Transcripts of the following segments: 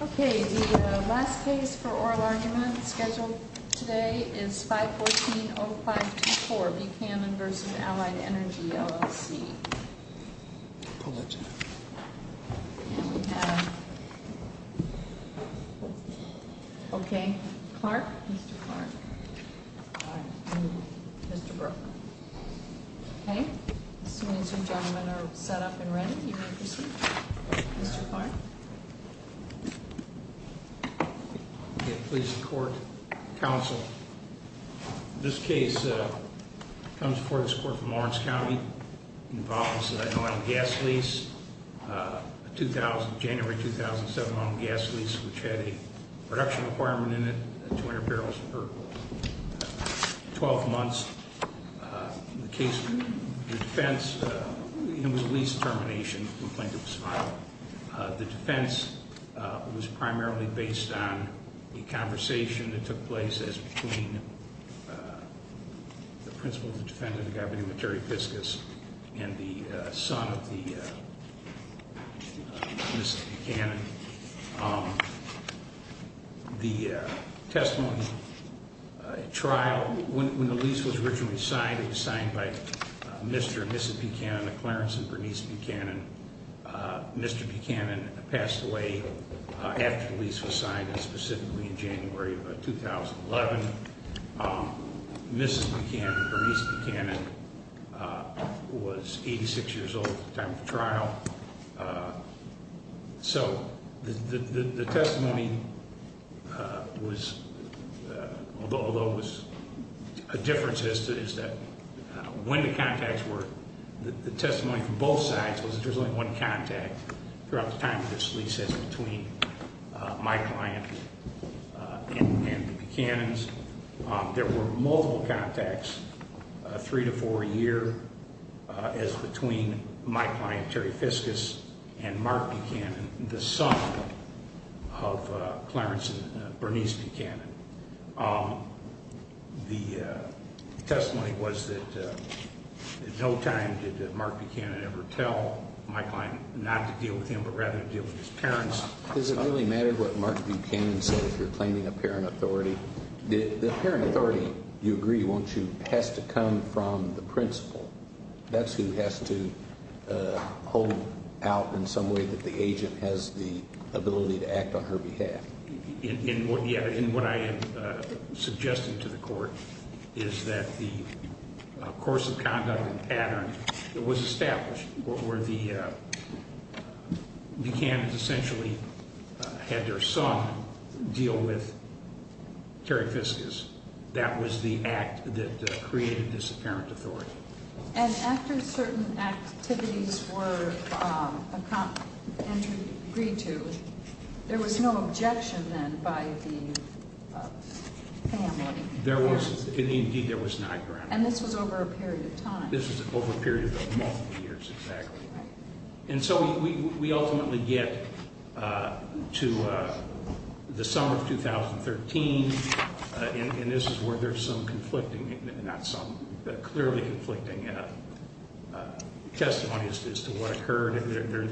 Okay, the last case for oral argument scheduled today is 514.0524 Buchanan v. Allied Energy, LLC Okay, Clark, Mr. Clark Mr. Brook Okay, as soon as you gentlemen are set up and ready, you may proceed Mr. Clark Okay, please court, counsel This case comes before this court from Lawrence County It involves an oil and gas lease, a 2000, January 2007 oil and gas lease which had a production requirement in it, 200 barrels per 12 months The case, the defense, it was a lease termination complaint of this file The defense was primarily based on a conversation that took place as between the principal of the defense of the government, Terry Piskus, and the son of the, Mr. Buchanan The testimony, trial, when the lease was originally signed, it was signed by Mr. and Mrs. Buchanan, Clarence and Bernice Buchanan Mr. Buchanan passed away after the lease was signed, specifically in January of 2011 Mrs. Buchanan, Bernice Buchanan, was 86 years old at the time of the trial So, the testimony was, although it was, a difference is that when the contacts were, the testimony from both sides was that there was only one contact throughout the time of this lease as between my client and Buchanan's There were multiple contacts, three to four a year, as between my client, Terry Piskus, and Mark Buchanan, the son of Clarence and Bernice Buchanan The testimony was that at no time did Mark Buchanan ever tell my client not to deal with him but rather to deal with his parents Does it really matter what Mark Buchanan says if you're claiming apparent authority? The apparent authority, you agree, won't you, has to come from the principal? That's who has to hold out in some way that the agent has the ability to act on her behalf In what I am suggesting to the court is that the course of conduct and pattern that was established where Buchanan essentially had their son deal with Terry Piskus, that was the act that created this apparent authority And after certain activities were agreed to, there was no objection then by the family? There was, indeed there was not, Your Honor And this was over a period of time? This was over a period of multiple years, exactly And so we ultimately get to the summer of 2013 and this is where there's some conflicting, not some, but clearly conflicting testimony as to what occurred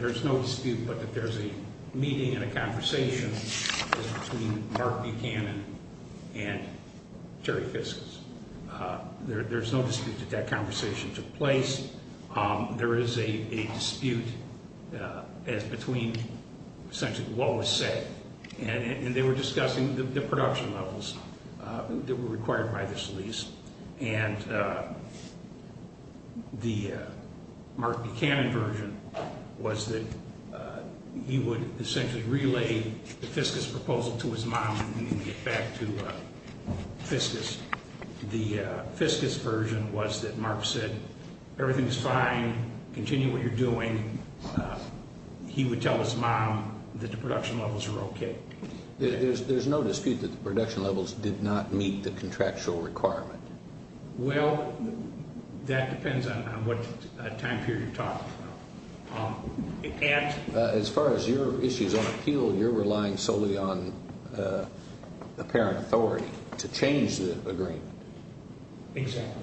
There's no dispute that there's a meeting and a conversation between Mark Buchanan and Terry Piskus There's no dispute that that conversation took place There is a dispute between essentially what was said And they were discussing the production levels that were required by this lease And the Mark Buchanan version was that he would essentially relay the Piskus proposal to his mom and get back to Piskus The Piskus version was that Mark said, everything's fine, continue what you're doing He would tell his mom that the production levels were okay There's no dispute that the production levels did not meet the contractual requirement Well, that depends on what time period you're talking about As far as your issues on appeal, you're relying solely on apparent authority to change the agreement Exactly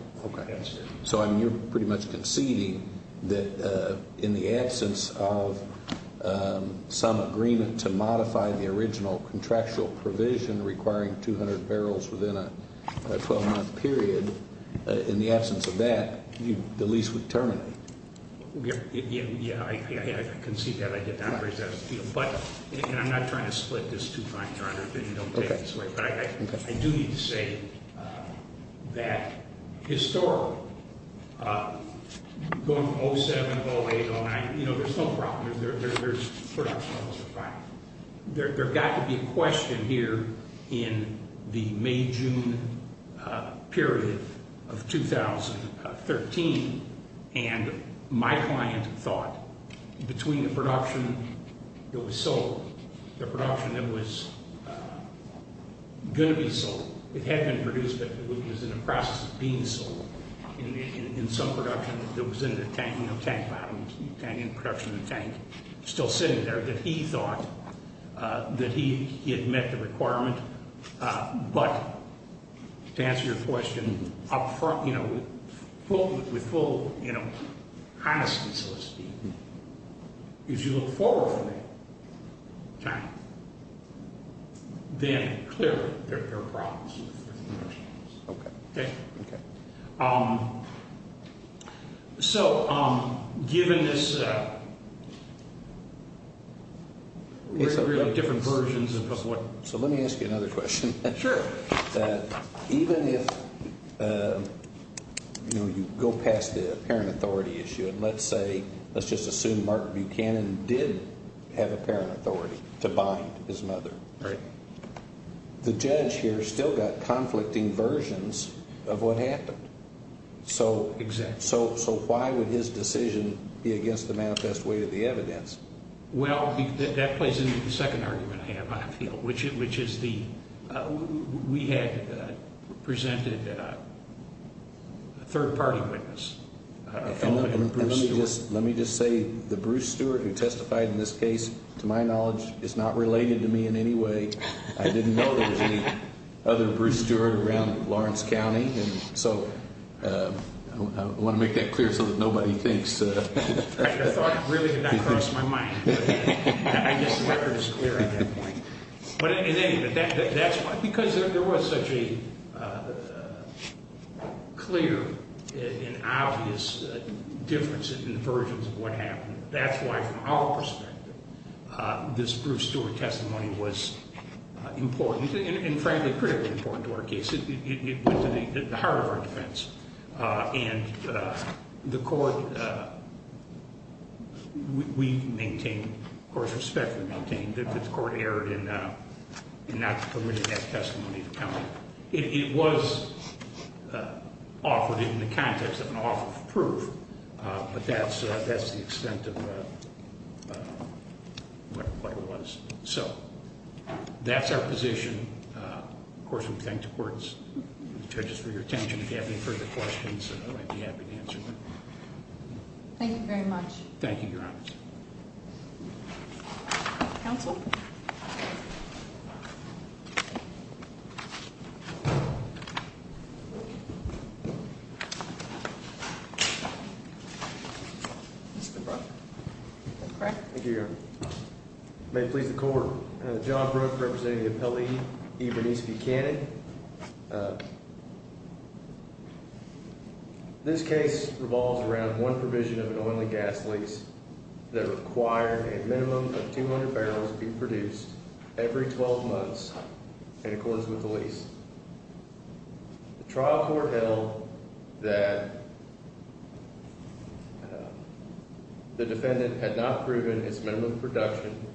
So you're pretty much conceding that in the absence of some agreement to modify the original contractual provision requiring 200 barrels within a 12 month period In the absence of that, the lease would terminate Yeah, I concede that I did not raise that as an appeal And I'm not trying to split this too fine, Your Honor, if you don't take it this way But I do need to say that historically, going from 07, 08, 09, you know, there's no problem The production levels are fine There got to be a question here in the May-June period of 2013 And my client thought, between the production that was sold, the production that was going to be sold It had been produced, but it was in the process of being sold In some production that was in the tank, production in the tank, still sitting there That he thought that he had met the requirement But, to answer your question, you know, with full honesty, so to speak If you look forward from that time, then clearly there are problems Okay So, given this, really different versions of what So let me ask you another question Sure Even if, you know, you go past the parent authority issue And let's say, let's just assume Martin Buchanan did have a parent authority to bind his mother Right The judge here still got conflicting versions of what happened Exactly So why would his decision be against the manifest way of the evidence? Well, that plays into the second argument I have, I feel Which is the, we had presented a third party witness A fellow named Bruce Stewart Let me just say, the Bruce Stewart who testified in this case, to my knowledge, is not related to me in any way I didn't know there was any other Bruce Stewart around Lawrence County So, I want to make that clear so that nobody thinks I thought it really did not cross my mind I guess the record is clear at that point But anyway, that's why, because there was such a clear and obvious difference in the versions of what happened That's why, from our perspective, this Bruce Stewart testimony was important And frankly, critically important to our case It went to the heart of our defense And the court, we maintain, of course, respectfully maintain that the court erred in not permitting that testimony to come It was offered in the context of an offer of proof But that's the extent of what it was So, that's our position Of course, we thank the court judges for your attention If you have any further questions, I'd be happy to answer them Thank you very much Thank you, Your Honor Counsel? Mr. Brooke? Thank you, Your Honor May it please the court John Brooke, representing the appellee, Ibanez Buchanan This case revolves around one provision of an oil and gas lease That required a minimum of 200 barrels be produced every 12 months in accordance with the lease The trial court held that the defendant had not proven its minimum production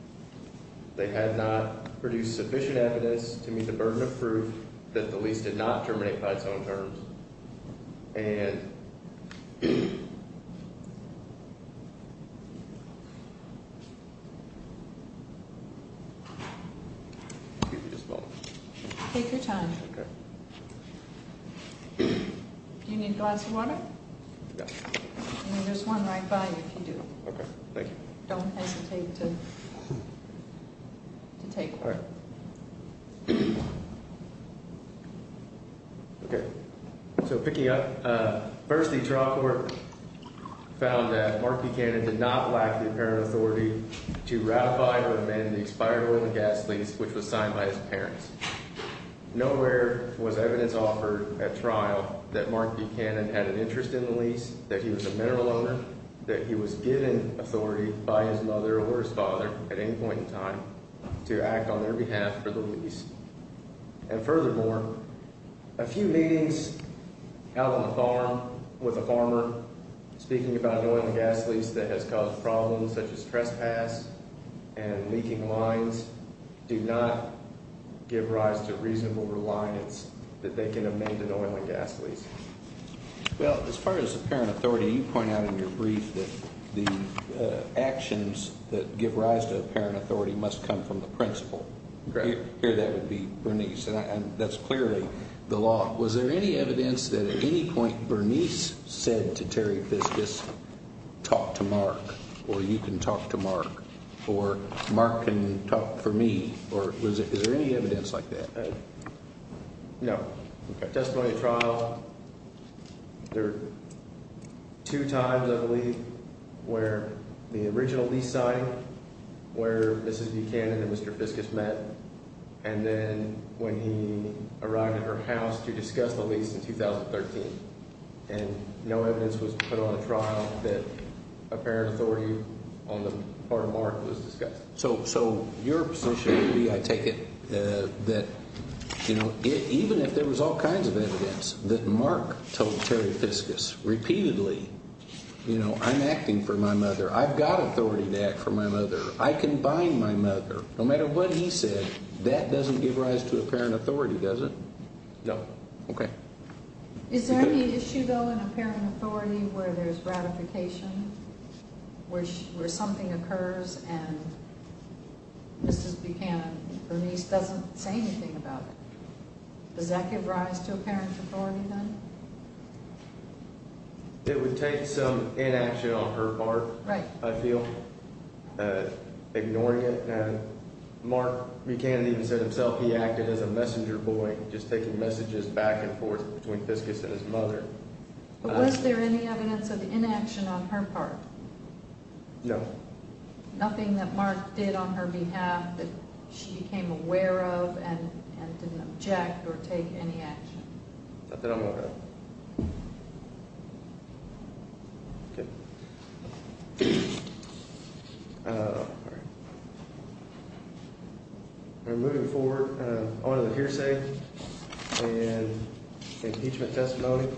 They had not produced sufficient evidence to meet the burden of proof that the lease did not terminate by its own terms And... Excuse me just a moment Okay Do you need a glass of water? No There's one right by you if you do Okay, thank you Don't hesitate to take one All right Okay So, picking up First, the trial court found that Mark Buchanan did not lack the apparent authority to ratify or amend the expired oil and gas lease Which was signed by his parents Nowhere was evidence offered at trial that Mark Buchanan had an interest in the lease That he was a mineral owner That he was given authority by his mother or his father at any point in time to act on their behalf for the lease And furthermore, a few meetings out on the farm with a farmer Speaking about an oil and gas lease that has caused problems such as trespass and leaking lines Do not give rise to reasonable reliance that they can amend an oil and gas lease Well, as far as apparent authority, you point out in your brief that the actions that give rise to apparent authority must come from the principal Here that would be Bernice And that's clearly the law Was there any evidence that at any point Bernice said to Terry Fiscus, talk to Mark or you can talk to Mark Or Mark can talk for me Is there any evidence like that? No Testimony at trial There were two times I believe where the original lease signing Where Mrs. Buchanan and Mr. Fiscus met And then when he arrived at her house to discuss the lease in 2013 And no evidence was put on a trial that apparent authority on the part of Mark was discussed So your position would be, I take it, that even if there was all kinds of evidence that Mark told Terry Fiscus repeatedly You know, I'm acting for my mother, I've got authority to act for my mother I can bind my mother, no matter what he said, that doesn't give rise to apparent authority, does it? No Is there any issue though in apparent authority where there's ratification? Where something occurs and Mrs. Buchanan, Bernice doesn't say anything about it Does that give rise to apparent authority then? It would take some inaction on her part, I feel Ignoring it, Mark Buchanan even said himself he acted as a messenger boy Just taking messages back and forth between Fiscus and his mother But was there any evidence of inaction on her part? No Nothing that Mark did on her behalf that she became aware of and didn't object or take any action? Not that I'm aware of Okay Alright Moving forward, on to the hearsay and impeachment testimony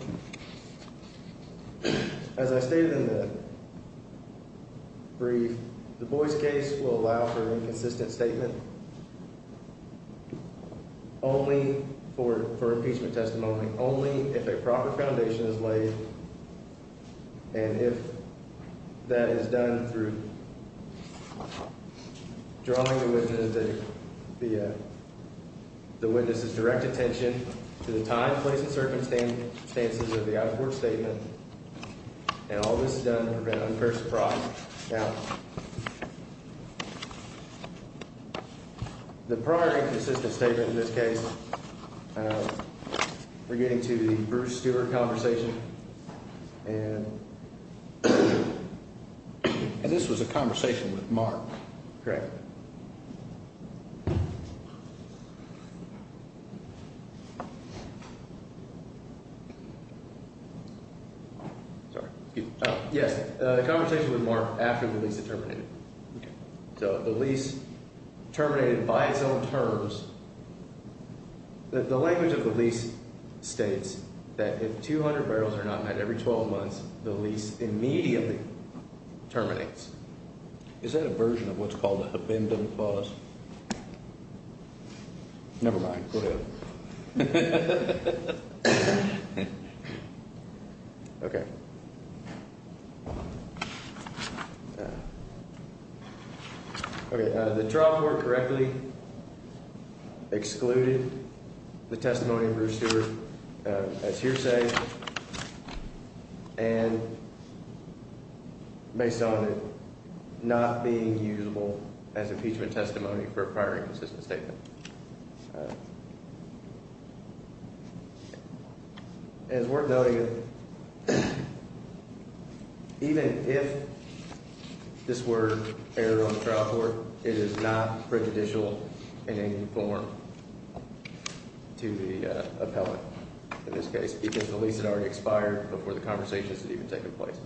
As I stated in the brief, the Boyce case will allow for inconsistent statement Only for impeachment testimony, only if a proper foundation is laid And if that is done through drawing the witness' direct attention to the time, place and circumstances of the outpour statement And all this is done to prevent unfair surprise The prior inconsistent statement in this case We're getting to the Bruce Stewart conversation And this was a conversation with Mark Correct Sorry, excuse me Yes, a conversation with Mark after the lease had terminated So the lease terminated by its own terms The language of the lease states that if 200 barrels are not met every 12 months, the lease immediately terminates Is that a version of what's called a habendum clause? Never mind, go ahead Okay Okay, the trial court correctly excluded the testimony of Bruce Stewart as hearsay And based on it not being usable as impeachment testimony for a prior inconsistent statement All right As worth noting Even if this were aired on the trial court, it is not prejudicial in any form to the appellate in this case Because the lease had already expired before the conversations had even taken place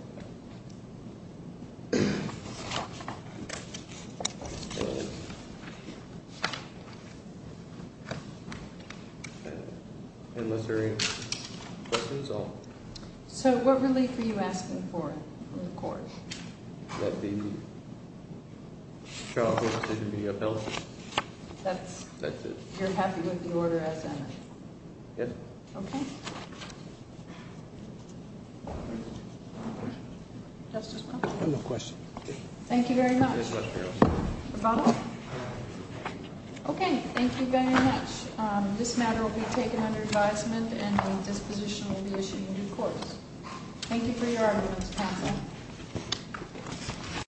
Unless there are any questions, I'll... So what relief are you asking for from the court? That the trial court decision be upheld That's it You're happy with the order as it is? Yes Okay Justice Blum I have no questions Thank you very much Rebuttal? Okay, thank you very much This matter will be taken under advisement and a disposition will be issued in due course